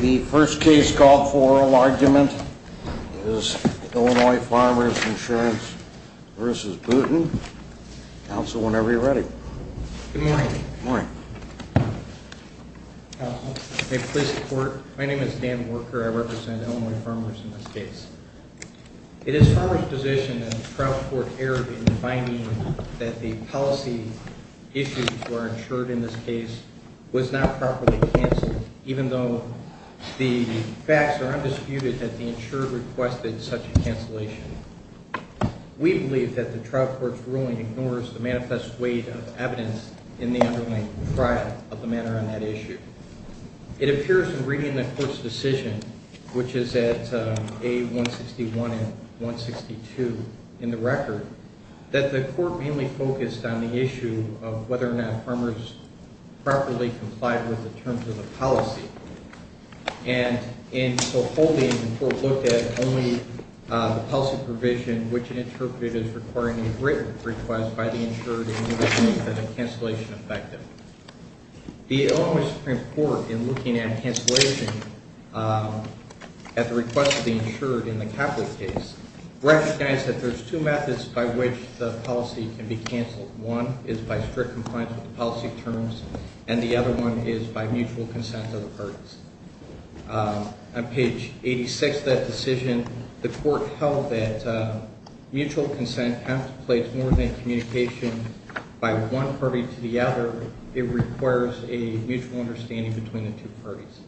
The first case called for oral argument is Illinois Farmers Insurance v. Booten. Counsel, whenever you're ready. Good morning. Good morning. Counsel, may I please report? My name is Dan Worker. I represent Illinois Farmers in this case. It is Farmers' position that the trial court erred in finding that the policy issues were insured in this case was not properly canceled, even though the facts are undisputed that the insurer requested such a cancellation. We believe that the trial court's ruling ignores the manifest weight of evidence in the underlying trial of the matter on that issue. It appears in reading the court's decision, which is at A161 and 162 in the record, that the court mainly focused on the issue of whether or not farmers properly complied with the terms of the policy. And in so holding, the court looked at only the policy provision, which it interpreted as requiring a written request by the insured in order to make the cancellation effective. The Illinois Supreme Court, in looking at cancellation at the request of the insured in the Copley case, recognized that there's two methods by which the policy can be canceled. One is by strict compliance with the policy terms, and the other one is by mutual consent of the parties. On page 86 of that decision, the court held that mutual consent contemplates more than communication by one party to the other. It requires a mutual understanding between the two parties.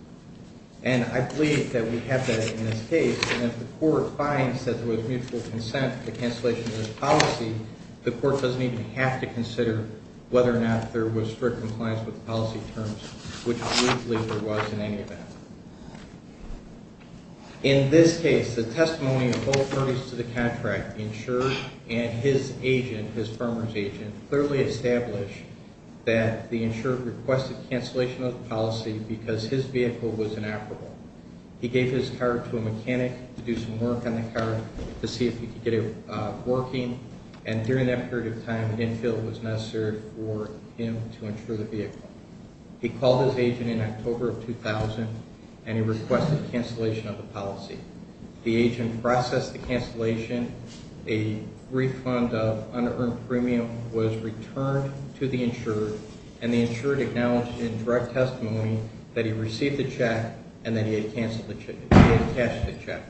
And I believe that we have that in this case. And if the court finds that there was mutual consent for the cancellation of this policy, the court doesn't even have to consider whether or not there was strict compliance with the policy terms, which I don't believe there was in any event. In this case, the testimony of both parties to the contract, the insured and his agent, his farmer's agent, clearly established that the insured requested cancellation of the policy because his vehicle was inoperable. He gave his car to a mechanic to do some work on the car to see if he could get it working, and during that period of time, an infill was necessary for him to insure the vehicle. He called his agent in October of 2000, and he requested cancellation of the policy. The agent processed the cancellation. A refund of unearned premium was returned to the insured, and the insured acknowledged in direct testimony that he received the check and that he had cashed the check.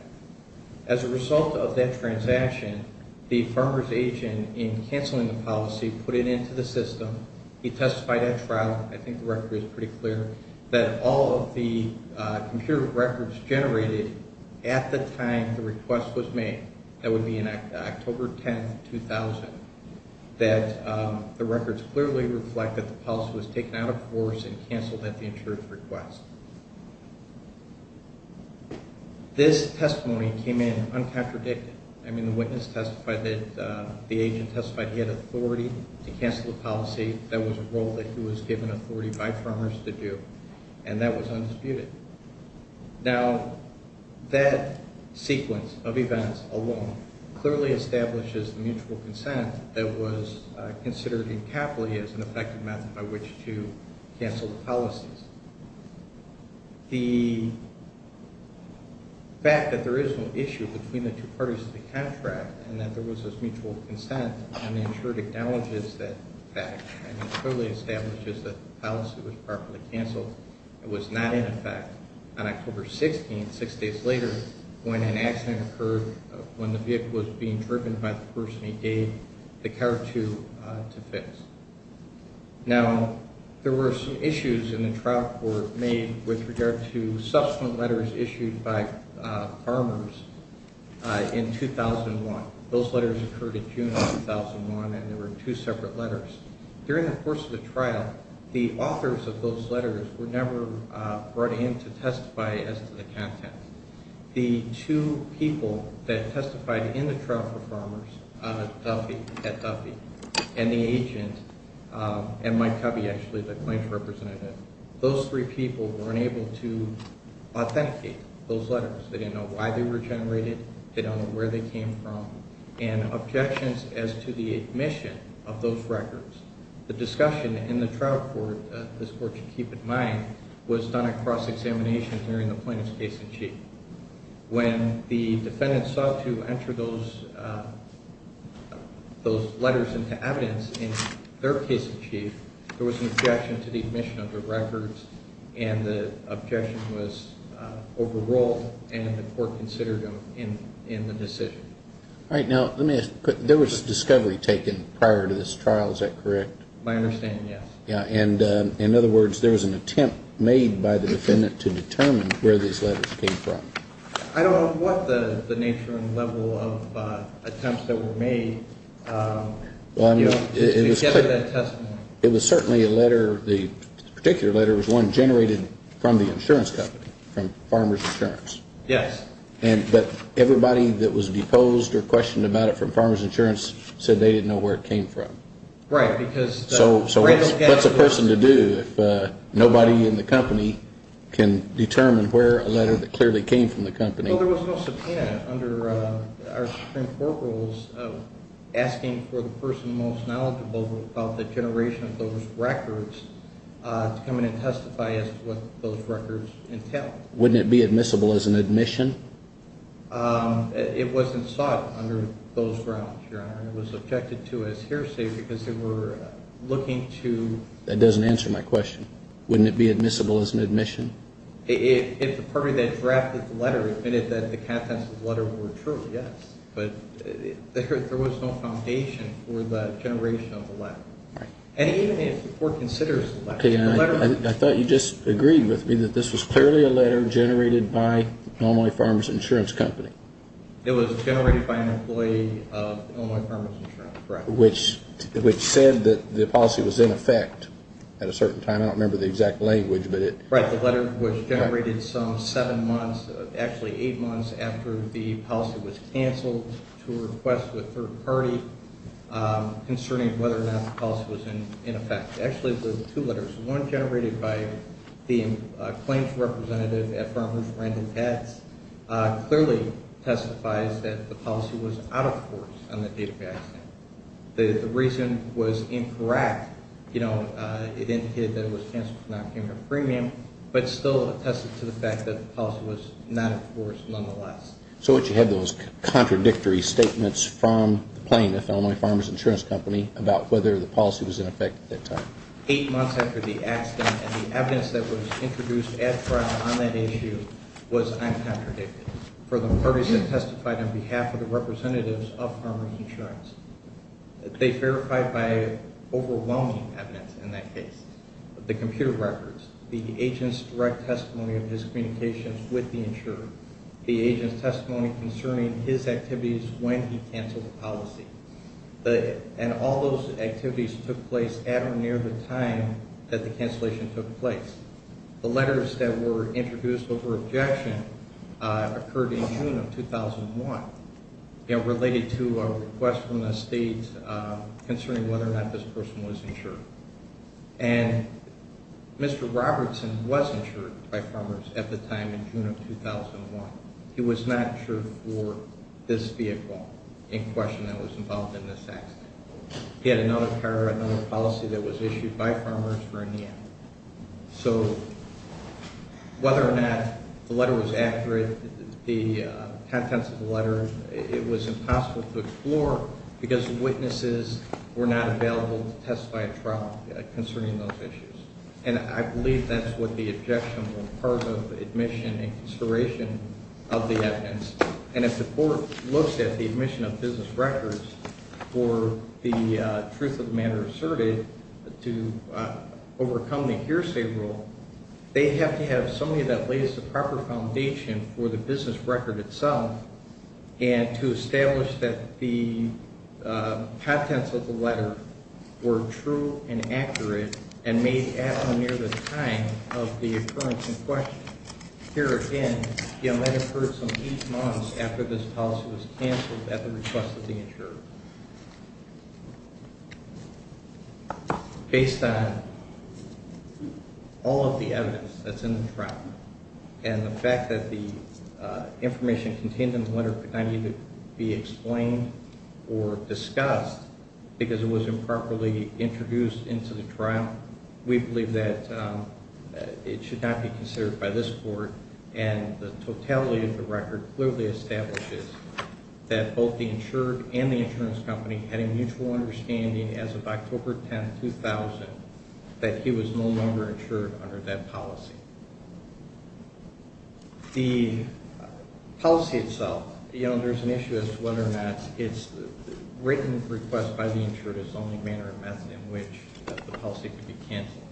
As a result of that transaction, the farmer's agent, in canceling the policy, put it into the system. He testified at trial. I think the record is pretty clear that all of the computer records generated at the time the request was made, that would be in October 10, 2000, that the records clearly reflect that the policy was taken out of force and canceled at the insured's request. This testimony came in uncontradicted. I mean, the witness testified that the agent testified he had authority to cancel the policy. That was a role that he was given authority by farmers to do, and that was undisputed. Now, that sequence of events alone clearly establishes the mutual consent that was considered incapably as an effective method by which to cancel the policies. The fact that there is no issue between the two parties of the contract and that there was this mutual consent, and the insured acknowledges that fact and clearly establishes that the policy was properly canceled, it was not in effect on October 16, six days later, when an accident occurred, when the vehicle was being driven by the person he gave the car to to fix. Now, there were some issues in the trial court made with regard to subsequent letters issued by farmers in 2001. Those letters occurred in June of 2001, and they were two separate letters. During the course of the trial, the authors of those letters were never brought in to testify as to the content. The two people that testified in the trial for farmers, Duffy, Ed Duffy, and the agent, and Mike Covey, actually, the claims representative, those three people weren't able to authenticate those letters. They didn't know why they were generated. They don't know where they came from, and objections as to the admission of those records. The discussion in the trial court, this court should keep in mind, was done at cross-examination during the plaintiff's case in chief. When the defendant sought to enter those letters into evidence in their case in chief, there was an objection to the admission of the records, and the objection was overruled, and the court considered them in the decision. All right. Now, let me ask, there was discovery taken prior to this trial. Is that correct? My understanding, yes. Yeah. And, in other words, there was an attempt made by the defendant to determine where these letters came from. I don't know what the nature and level of attempts that were made to gather that testimony. It was certainly a letter, the particular letter was one generated from the insurance company, from Farmers Insurance. Yes. But everybody that was deposed or questioned about it from Farmers Insurance said they didn't know where it came from. Right. So what's a person to do if nobody in the company can determine where a letter that clearly came from the company? Well, there was no subpoena under our Supreme Court rules asking for the person most knowledgeable about the generation of those records to come in and testify as to what those records entail. Wouldn't it be admissible as an admission? It wasn't sought under those grounds, Your Honor. It was objected to as hearsay because they were looking to – That doesn't answer my question. Wouldn't it be admissible as an admission? If the party that drafted the letter admitted that the contents of the letter were true, yes. But there was no foundation for the generation of the letter. Right. And even if the court considers the letter – Okay. I thought you just agreed with me that this was clearly a letter generated by the Illinois Farmers Insurance Company. It was generated by an employee of Illinois Farmers Insurance, correct. Which said that the policy was in effect at a certain time. I don't remember the exact language, but it – Right. The letter was generated some seven months, actually eight months, after the policy was canceled to a request with a third party concerning whether or not the policy was in effect. Actually, there were two letters. One generated by the claims representative at Farmers Rent and Tax clearly testifies that the policy was out of force on the date of the accident. The reason was incorrect. You know, it indicated that it was canceled for non-payment of premium, but still attested to the fact that the policy was not in force nonetheless. So what, you had those contradictory statements from the plaintiff, Illinois Farmers Insurance Company, about whether the policy was in effect at that time? Eight months after the accident, and the evidence that was introduced on that issue was uncontradicted. For the parties that testified on behalf of the representatives of Farmers Insurance, they verified by overwhelming evidence in that case. The computer records, the agent's direct testimony of his communications with the insurer, the agent's testimony concerning his activities when he canceled the policy. And all those activities took place at or near the time that the cancellation took place. The letters that were introduced over objection occurred in June of 2001, you know, related to a request from the state concerning whether or not this person was insured. And Mr. Robertson was insured by Farmers at the time in June of 2001. He was not insured for this vehicle in question that was involved in this accident. He had another car, another policy that was issued by Farmers for a NIA. So whether or not the letter was accurate, the contents of the letter, it was impossible to explore because witnesses were not available to testify at trial concerning those issues. And I believe that's what the objection was, part of admission and consideration of the evidence. And if the court looks at the admission of business records for the truth of the matter asserted to overcome the hearsay rule, they have to have somebody that lays the proper foundation for the business record itself and to establish that the contents of the letter were true and accurate and made at or near the time of the occurrence in question. Here again, the amendment occurred some eight months after this policy was canceled at the request of the insurer. Based on all of the evidence that's in the trial and the fact that the information contained in the letter could not be explained or discussed because it was improperly introduced into the trial, we believe that it should not be considered by this court. And the totality of the record clearly establishes that both the insured and the insurance company had a mutual understanding as of October 10, 2000, that he was no longer insured under that policy. The policy itself, you know, there's an issue as to whether or not it's written request by the insured is the only manner of method in which the policy could be canceled.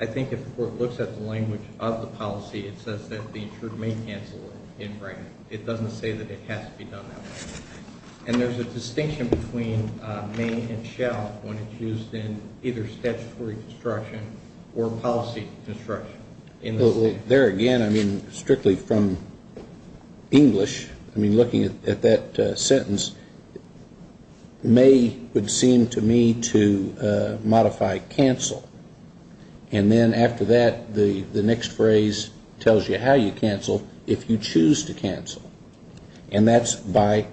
I think if the court looks at the language of the policy, it says that the insured may cancel it in writing. It doesn't say that it has to be done that way. And there's a distinction between may and shall when it's used in either statutory construction or policy construction. There again, I mean, strictly from English, I mean, looking at that sentence, may would seem to me to modify cancel. And then after that, the next phrase tells you how you cancel if you choose to cancel. And that's by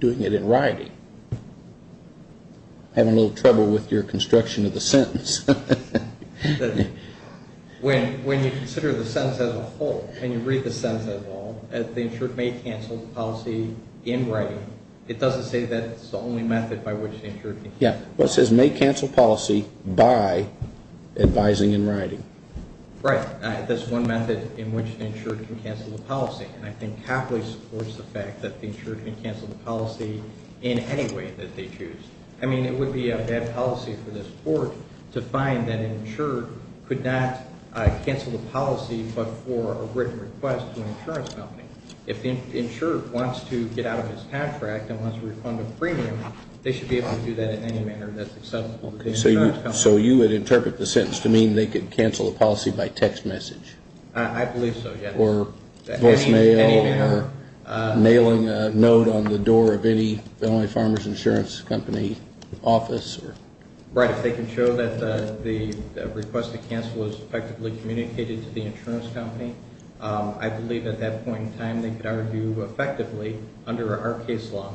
doing it in writing. Having a little trouble with your construction of the sentence. When you consider the sentence as a whole, when you read the sentence as a whole, the insured may cancel the policy in writing. It doesn't say that's the only method by which the insured can cancel. Yeah. It says may cancel policy by advising in writing. Right. That's one method in which the insured can cancel the policy. And I think Copley supports the fact that the insured can cancel the policy in any way that they choose. I mean, it would be a bad policy for this court to find that an insured could not cancel the policy, but for a written request to an insurance company. If the insured wants to get out of his contract and wants to refund a premium, they should be able to do that in any manner that's acceptable to the insurance company. So you would interpret the sentence to mean they could cancel the policy by text message? I believe so, yes. Or voice mail? Any manner. Nailing a note on the door of any felony farmers insurance company office? Right. If they can show that the request to cancel was effectively communicated to the insurance company, I believe at that point in time they could argue effectively under our case law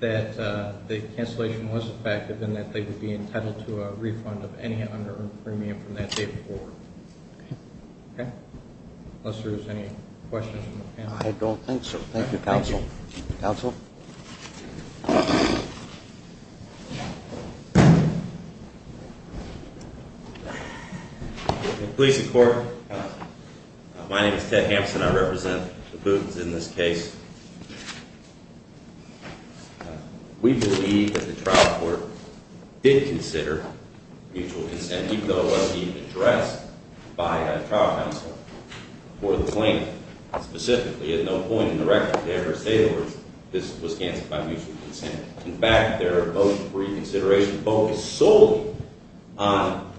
that the cancellation was effective and that they would be entitled to a refund of any under-earned premium from that date forward. Okay. Unless there's any questions from the panel. I don't think so. Thank you, counsel. Counsel? Police and court. My name is Ted Hampson. I represent the Boots in this case. We believe that the trial court did consider mutual consent, even though it wasn't even addressed by the trial counsel for the claim. Specifically, at no point in the record did they ever say this was canceled by mutual consent. In fact, their reconsideration focused solely on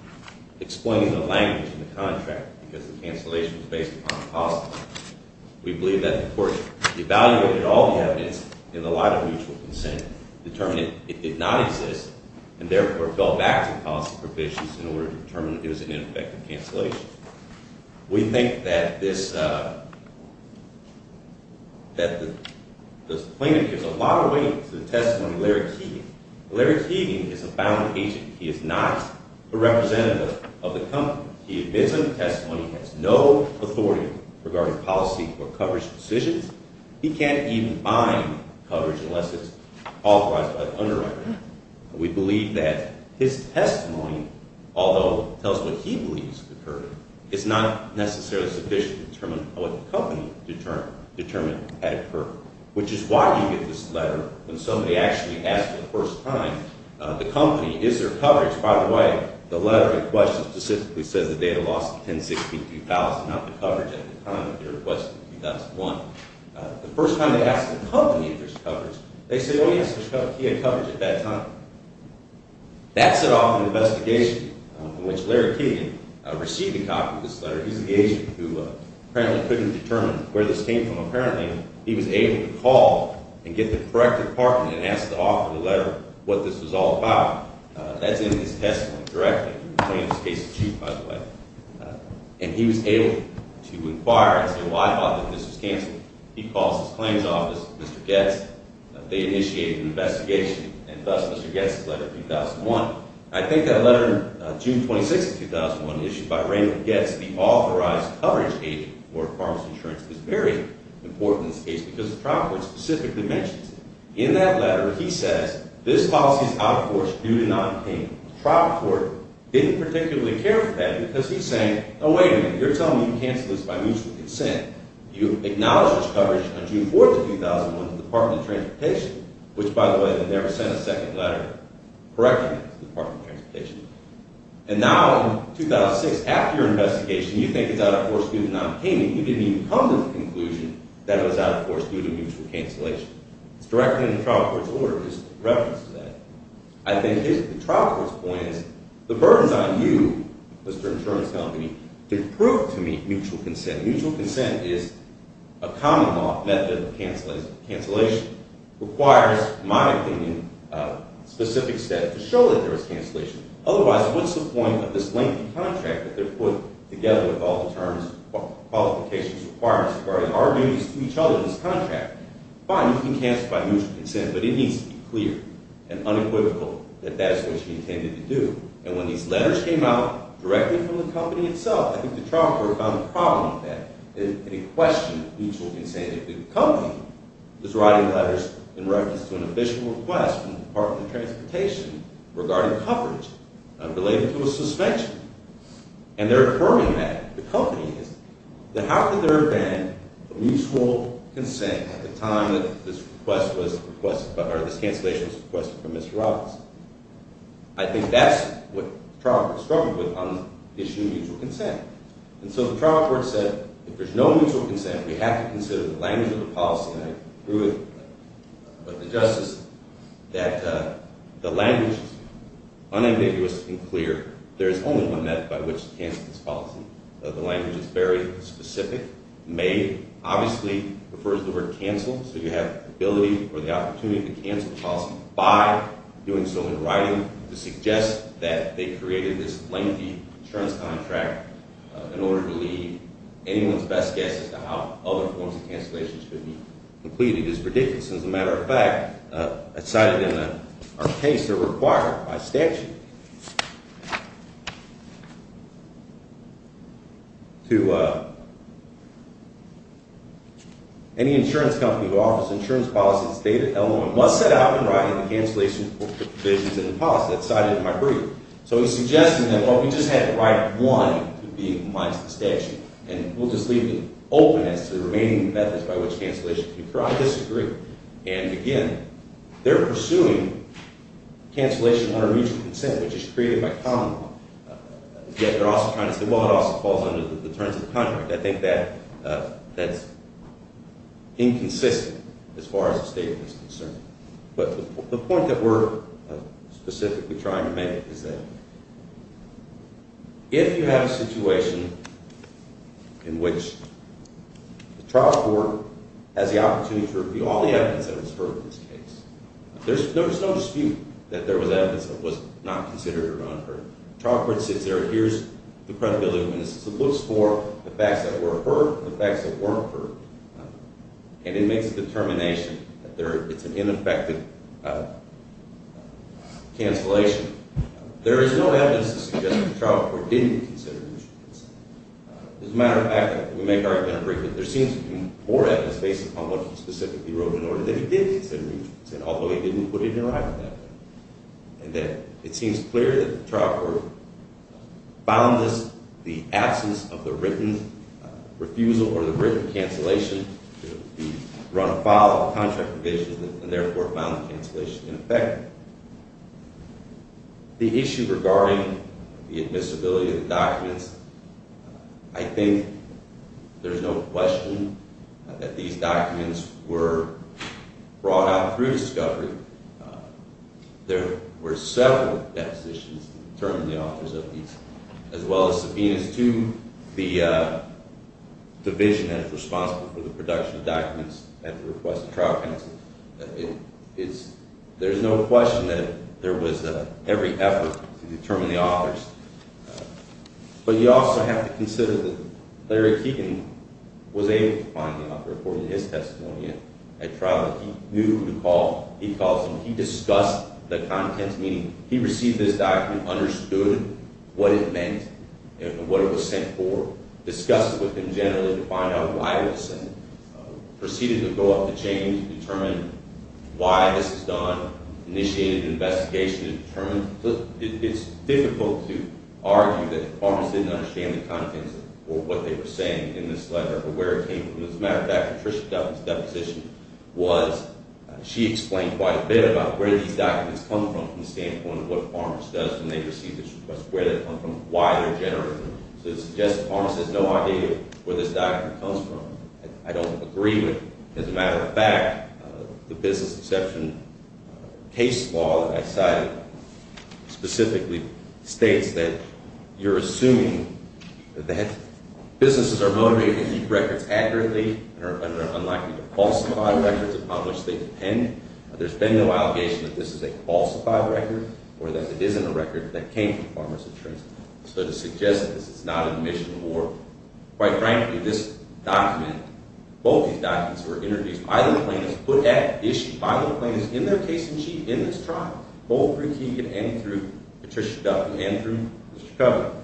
explaining the language in the contract because the cancellation was based upon policy. We believe that the court evaluated all the evidence in the light of mutual consent, determined it did not exist, and therefore fell back to policy provisions in order to determine it was an ineffective cancellation. We think that this claimant gives a lot of weight to the testimony of Larry Keegan. Larry Keegan is a bound agent. He is not a representative of the company. He admits in the testimony he has no authority regarding policy or coverage decisions. He can't even bind coverage unless it's authorized by the underwriter. We believe that his testimony, although it tells what he believes occurred, is not necessarily sufficient to determine what the company determined had occurred, which is why you get this letter when somebody actually asks for the first time, the company, is there coverage? By the way, the letter in question specifically says the data lost $1062,000, not the coverage at the time of your request in 2001. The first time they asked the company if there's coverage, they said, oh, yes, there's coverage. He had coverage at that time. That set off an investigation in which Larry Keegan received a copy of this letter. He's an agent who apparently couldn't determine where this came from. Apparently, he was able to call and get the correct department and ask the author of the letter what this was all about. That's in his testimony directly. He's a plaintiff's case of chief, by the way. And he was able to inquire and say, well, I thought that this was canceled. He calls his claims office, Mr. Goetz. They initiated an investigation, and thus Mr. Goetz's letter in 2001. I think that letter, June 26th of 2001, issued by Raymond Goetz, the authorized coverage agent for pharmacy insurance, is very important in this case because the trial court specifically mentions it. In that letter, he says, this policy is out of course due to non-obtainable. The trial court didn't particularly care for that because he's saying, oh, wait a minute. You're telling me you canceled this by mutual consent. You acknowledged this coverage on June 4th of 2001 to the Department of Transportation, which, by the way, they never sent a second letter of correction to the Department of Transportation. And now, in 2006, after your investigation, you think it's out of course due to non-obtainable. You didn't even come to the conclusion that it was out of course due to mutual cancellation. It's directly in the trial court's order just in reference to that. I think the trial court's point is the burden is on you, Mr. Insurance Company, to prove to me mutual consent. Mutual consent is a common law method of cancellation. Cancellation requires, in my opinion, specific steps to show that there is cancellation. Otherwise, what's the point of this lengthy contract that they're putting together with all the terms, qualifications, requirements, as far as arguing each other this contract? Fine, you can cancel by mutual consent, but it needs to be clear and unequivocal that that is what you intended to do. And when these letters came out directly from the company itself, I think the trial court found the problem with that. It questioned mutual consent. The company was writing letters in reference to an official request from the Department of Transportation regarding coverage unrelated to a suspension. And they're affirming that, the company is, that how could there have been a mutual consent at the time that this request was requested, or this cancellation was requested from Mr. Robinson? I think that's what the trial court struggled with on the issue of mutual consent. And so the trial court said, if there's no mutual consent, we have to consider the language of the policy, and I agree with the Justice, that the language is unambiguous and clear. There is only one method by which to cancel this policy. The language is very specific, made, obviously refers to the word cancel, so you have the ability or the opportunity to cancel the policy by doing so in writing, to suggest that they created this lengthy insurance contract in order to lead anyone's best guess to how other forms of cancellations could be completed is ridiculous. As a matter of fact, cited in our case, they're required by statute to any insurance company who offers insurance policies stated L1 must set out in writing the cancellation provisions in the policy. That's cited in my brief. So he's suggesting that, well, we just had to write one to be in compliance with the statute, and we'll just leave it open as to the remaining methods by which cancellation can occur. I disagree. And, again, they're pursuing cancellation under mutual consent, which is created by common law. Yet they're also trying to say, well, it also falls under the terms of the contract. I think that's inconsistent as far as the statement is concerned. But the point that we're specifically trying to make is that if you have a situation in which the trial court has the opportunity to review all the evidence that was heard in this case, there's no dispute that there was evidence that was not considered or unheard. The trial court sits there and hears the credibility of witnesses and looks for the facts that were heard and then makes a determination that it's an ineffective cancellation. There is no evidence to suggest that the trial court didn't consider mutual consent. As a matter of fact, we make our argument in a brief that there seems to be more evidence based upon what he specifically wrote in order that he did consider mutual consent, although he didn't put it in writing that day. And that it seems clear that the trial court found this, the absence of the written refusal or the written cancellation, to run afoul of contract provisions and, therefore, found the cancellation ineffective. The issue regarding the admissibility of the documents, I think there's no question that these documents were brought out through discovery. There were several depositions to determine the authors of these, as well as subpoenas to the division that is responsible for the production of documents at the request of trial counsel. There's no question that there was every effort to determine the authors. But you also have to consider that Larry Keegan was able to find the author according to his testimony at trial. He knew who to call. He discussed the contents, meaning he received this document, understood what it meant and what it was sent for, discussed it with him generally to find out why it was sent, proceeded to go up the chain to determine why this was done, initiated an investigation to determine. It's difficult to argue that the departments didn't understand the contents or what they were saying in this letter or where it came from. As a matter of fact, Patricia Douglas' deposition was, she explained quite a bit about where these documents come from from the standpoint of what Farmers does when they receive this request, where they come from, why they're generated. So it suggests that Farmers has no idea where this document comes from. I don't agree with it. As a matter of fact, the business exception case law that I cited specifically states that you're assuming that businesses are motivated to keep records accurately and are unlikely to falsify records upon which they depend. There's been no allegation that this is a falsified record or that it isn't a record that came from Farmers Insurance. So to suggest this, it's not an admission of war. Quite frankly, this document, both these documents were introduced by the plaintiffs, put at issue by the plaintiffs in their case in chief, in this trial, both through Keegan and through Patricia Douglas and through Mr. Covey.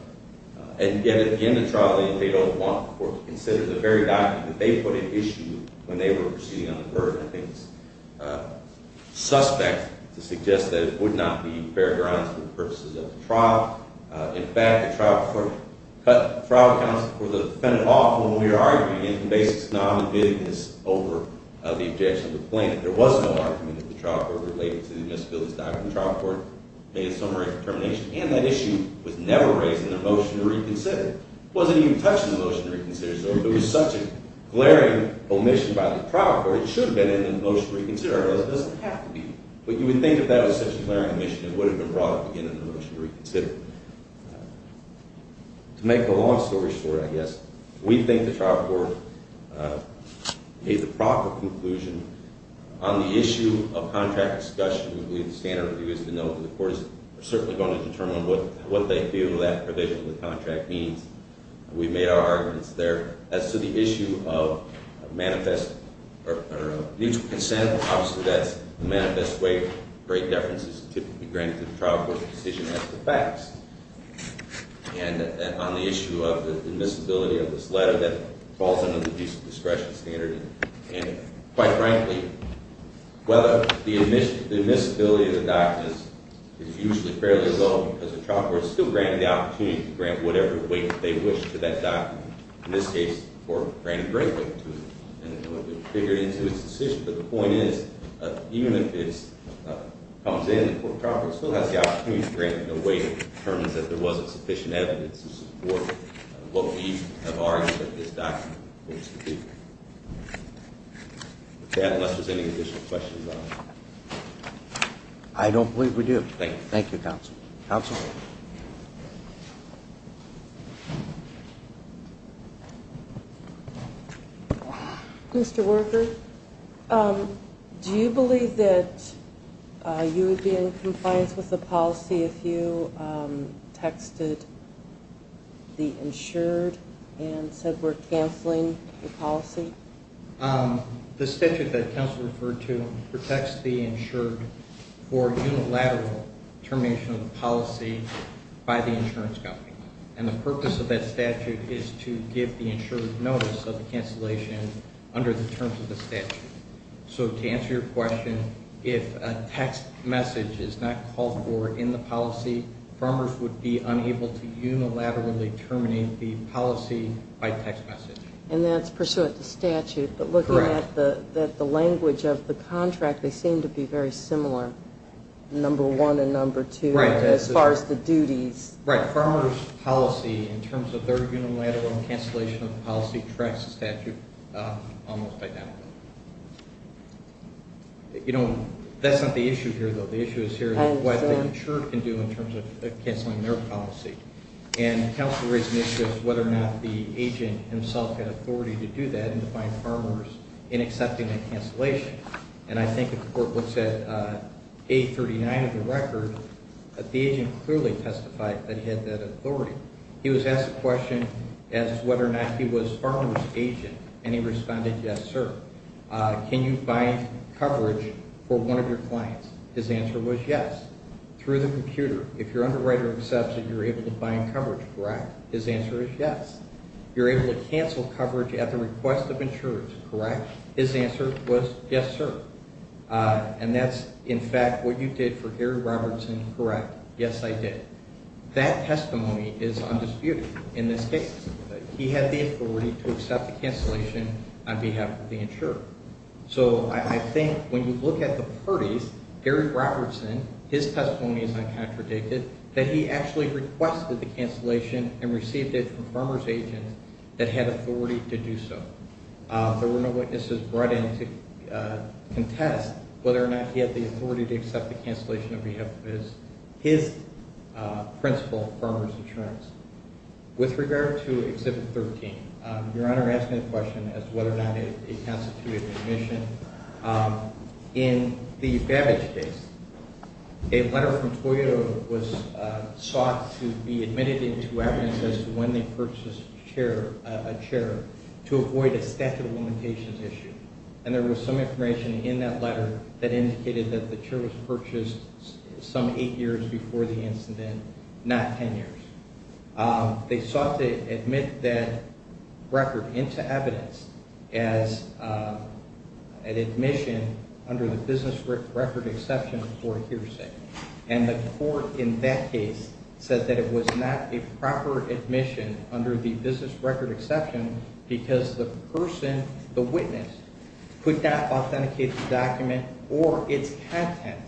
And yet, at the end of the trial, they don't want the court to consider the very document that they put at issue when they were proceeding on the verdict. I think it's suspect to suggest that it would not be fair grounds for the purposes of the trial. In fact, the trial court cut the trial counsel for the defendant off when we were arguing the basis of non-admittedness over the objection of the plaintiff. There was no argument that the trial court related to the misdemeanor's document. The trial court made a summary determination. And that issue was never raised in the motion to reconsider. It wasn't even touched in the motion to reconsider. So if it was such a glaring omission by the trial court, it should have been in the motion to reconsider. Otherwise, it doesn't have to be. But you would think if that was such a glaring omission, it would have been brought up again in the motion to reconsider. To make the long story short, I guess, we think the trial court made the proper conclusion on the issue of contract discussion. We believe the standard of view is to know that the courts are certainly going to determine what they feel that provision of the contract means. We've made our arguments there. As to the issue of manifest or mutual consent, obviously, that's the manifest way to break deference is typically granted to the trial court's decision as to facts. And on the issue of the admissibility of this letter, that falls under the decent discretion standard. And quite frankly, whether the admissibility of the document is usually fairly low because the trial court is still granted the opportunity to grant whatever weight they wish to that document. In this case, the court granted great weight to it. And it would have been figured into its decision. But the point is, even if it comes in, the court trial court still has the opportunity to grant it a weight that determines that there wasn't sufficient evidence to support what we have argued that this document was to do. Unless there's any additional questions on it. I don't believe we do. Thank you. Thank you, counsel. Counsel? Thank you. Mr. Worker, do you believe that you would be in compliance with the policy if you texted the insured and said we're canceling the policy? The statute that counsel referred to protects the insured for unilateral termination of the policy by the insurance company. And the purpose of that statute is to give the insured notice of the cancellation under the terms of the statute. So to answer your question, if a text message is not called for in the policy, farmers would be unable to unilaterally terminate the policy by text message. And that's pursuant to statute. Correct. But looking at the language of the contract, they seem to be very similar, number one and number two. Right. As far as the duties. Right. Farmers' policy in terms of their unilateral cancellation of the policy tracks the statute almost identically. You know, that's not the issue here, though. The issue is here what the insured can do in terms of canceling their policy. And counsel raised an issue as to whether or not the agent himself had authority to do that and to find farmers in accepting the cancellation. And I think if the court looks at page 39 of the record, the agent clearly testified that he had that authority. He was asked a question as to whether or not he was farmer's agent, and he responded, yes, sir. Can you find coverage for one of your clients? His answer was yes. Through the computer, if your underwriter accepts it, you're able to find coverage, correct? His answer is yes. You're able to cancel coverage at the request of insurers, correct? His answer was yes, sir. And that's, in fact, what you did for Gary Robertson, correct? Yes, I did. That testimony is undisputed in this case. He had the authority to accept the cancellation on behalf of the insurer. So I think when you look at the parties, Gary Robertson, his testimony is uncontradicted, that he actually requested the cancellation and received it from farmer's agents that had authority to do so. There were no witnesses brought in to contest whether or not he had the authority to accept the cancellation on behalf of his principal farmer's insurance. With regard to Exhibit 13, Your Honor asked me a question as to whether or not it constituted an admission. In the Babbage case, a letter from Toyota was sought to be admitted into evidence as to when they purchased a chair to avoid a statute of limitations issue. And there was some information in that letter that indicated that the chair was purchased some eight years before the incident, not ten years. They sought to admit that record into evidence as an admission under the business record exception for hearsay. And the court in that case said that it was not a proper admission under the business record exception because the person, the witness, could not authenticate the document or its content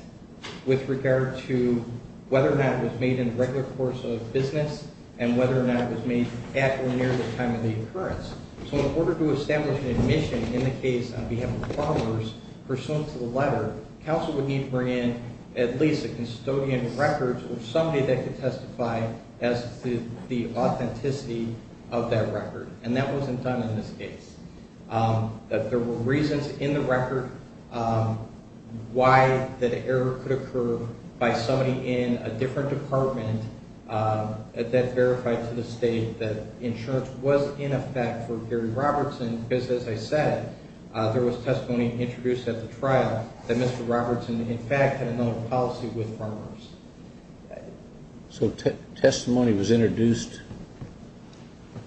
with regard to whether or not it was made in the regular course of business and whether or not it was made at or near the time of the occurrence. So in order to establish an admission in the case on behalf of farmers pursuant to the letter, counsel would need to bring in at least a custodian of records or somebody that could testify as to the authenticity of that record, and that wasn't done in this case. There were reasons in the record why that error could occur by somebody in a different department that verified to the state that insurance was in effect for Gary Robertson because, as I said, there was testimony introduced at the trial that Mr. Robertson in fact had another policy with farmers. So testimony was introduced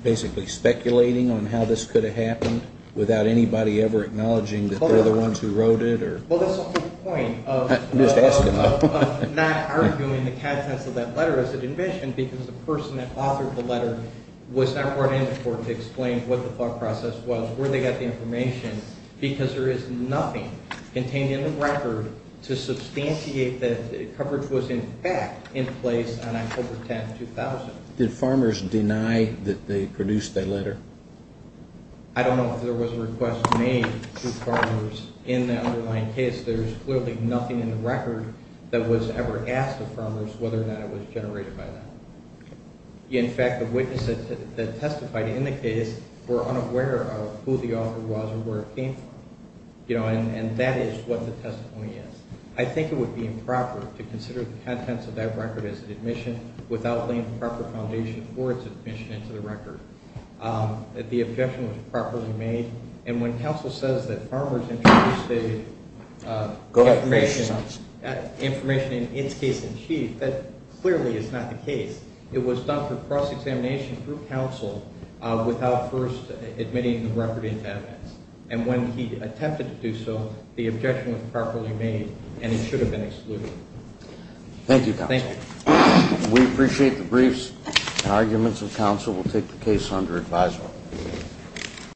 basically speculating on how this could have happened without anybody ever acknowledging that they're the ones who wrote it? Well, that's also the point of not arguing the contents of that letter as an admission because the person that authored the letter was not brought into court to explain what the thought process was, where they got the information, because there is nothing contained in the record to substantiate that the coverage was in fact in place on October 10, 2000. Did farmers deny that they produced that letter? I don't know if there was a request made to farmers in the underlying case. There's clearly nothing in the record that was ever asked of farmers whether or not it was generated by them. In fact, the witnesses that testified in the case were unaware of who the author was or where it came from, and that is what the testimony is. I think it would be improper to consider the contents of that record as an admission without laying the proper foundation for its admission into the record. The objection was properly made, and when counsel says that farmers introduced the information in its case in chief, that clearly is not the case. It was done through cross-examination through counsel without first admitting the record into MS. And when he attempted to do so, the objection was properly made, and it should have been excluded. Thank you, counsel. We appreciate the briefs and arguments, and counsel will take the case under advisement.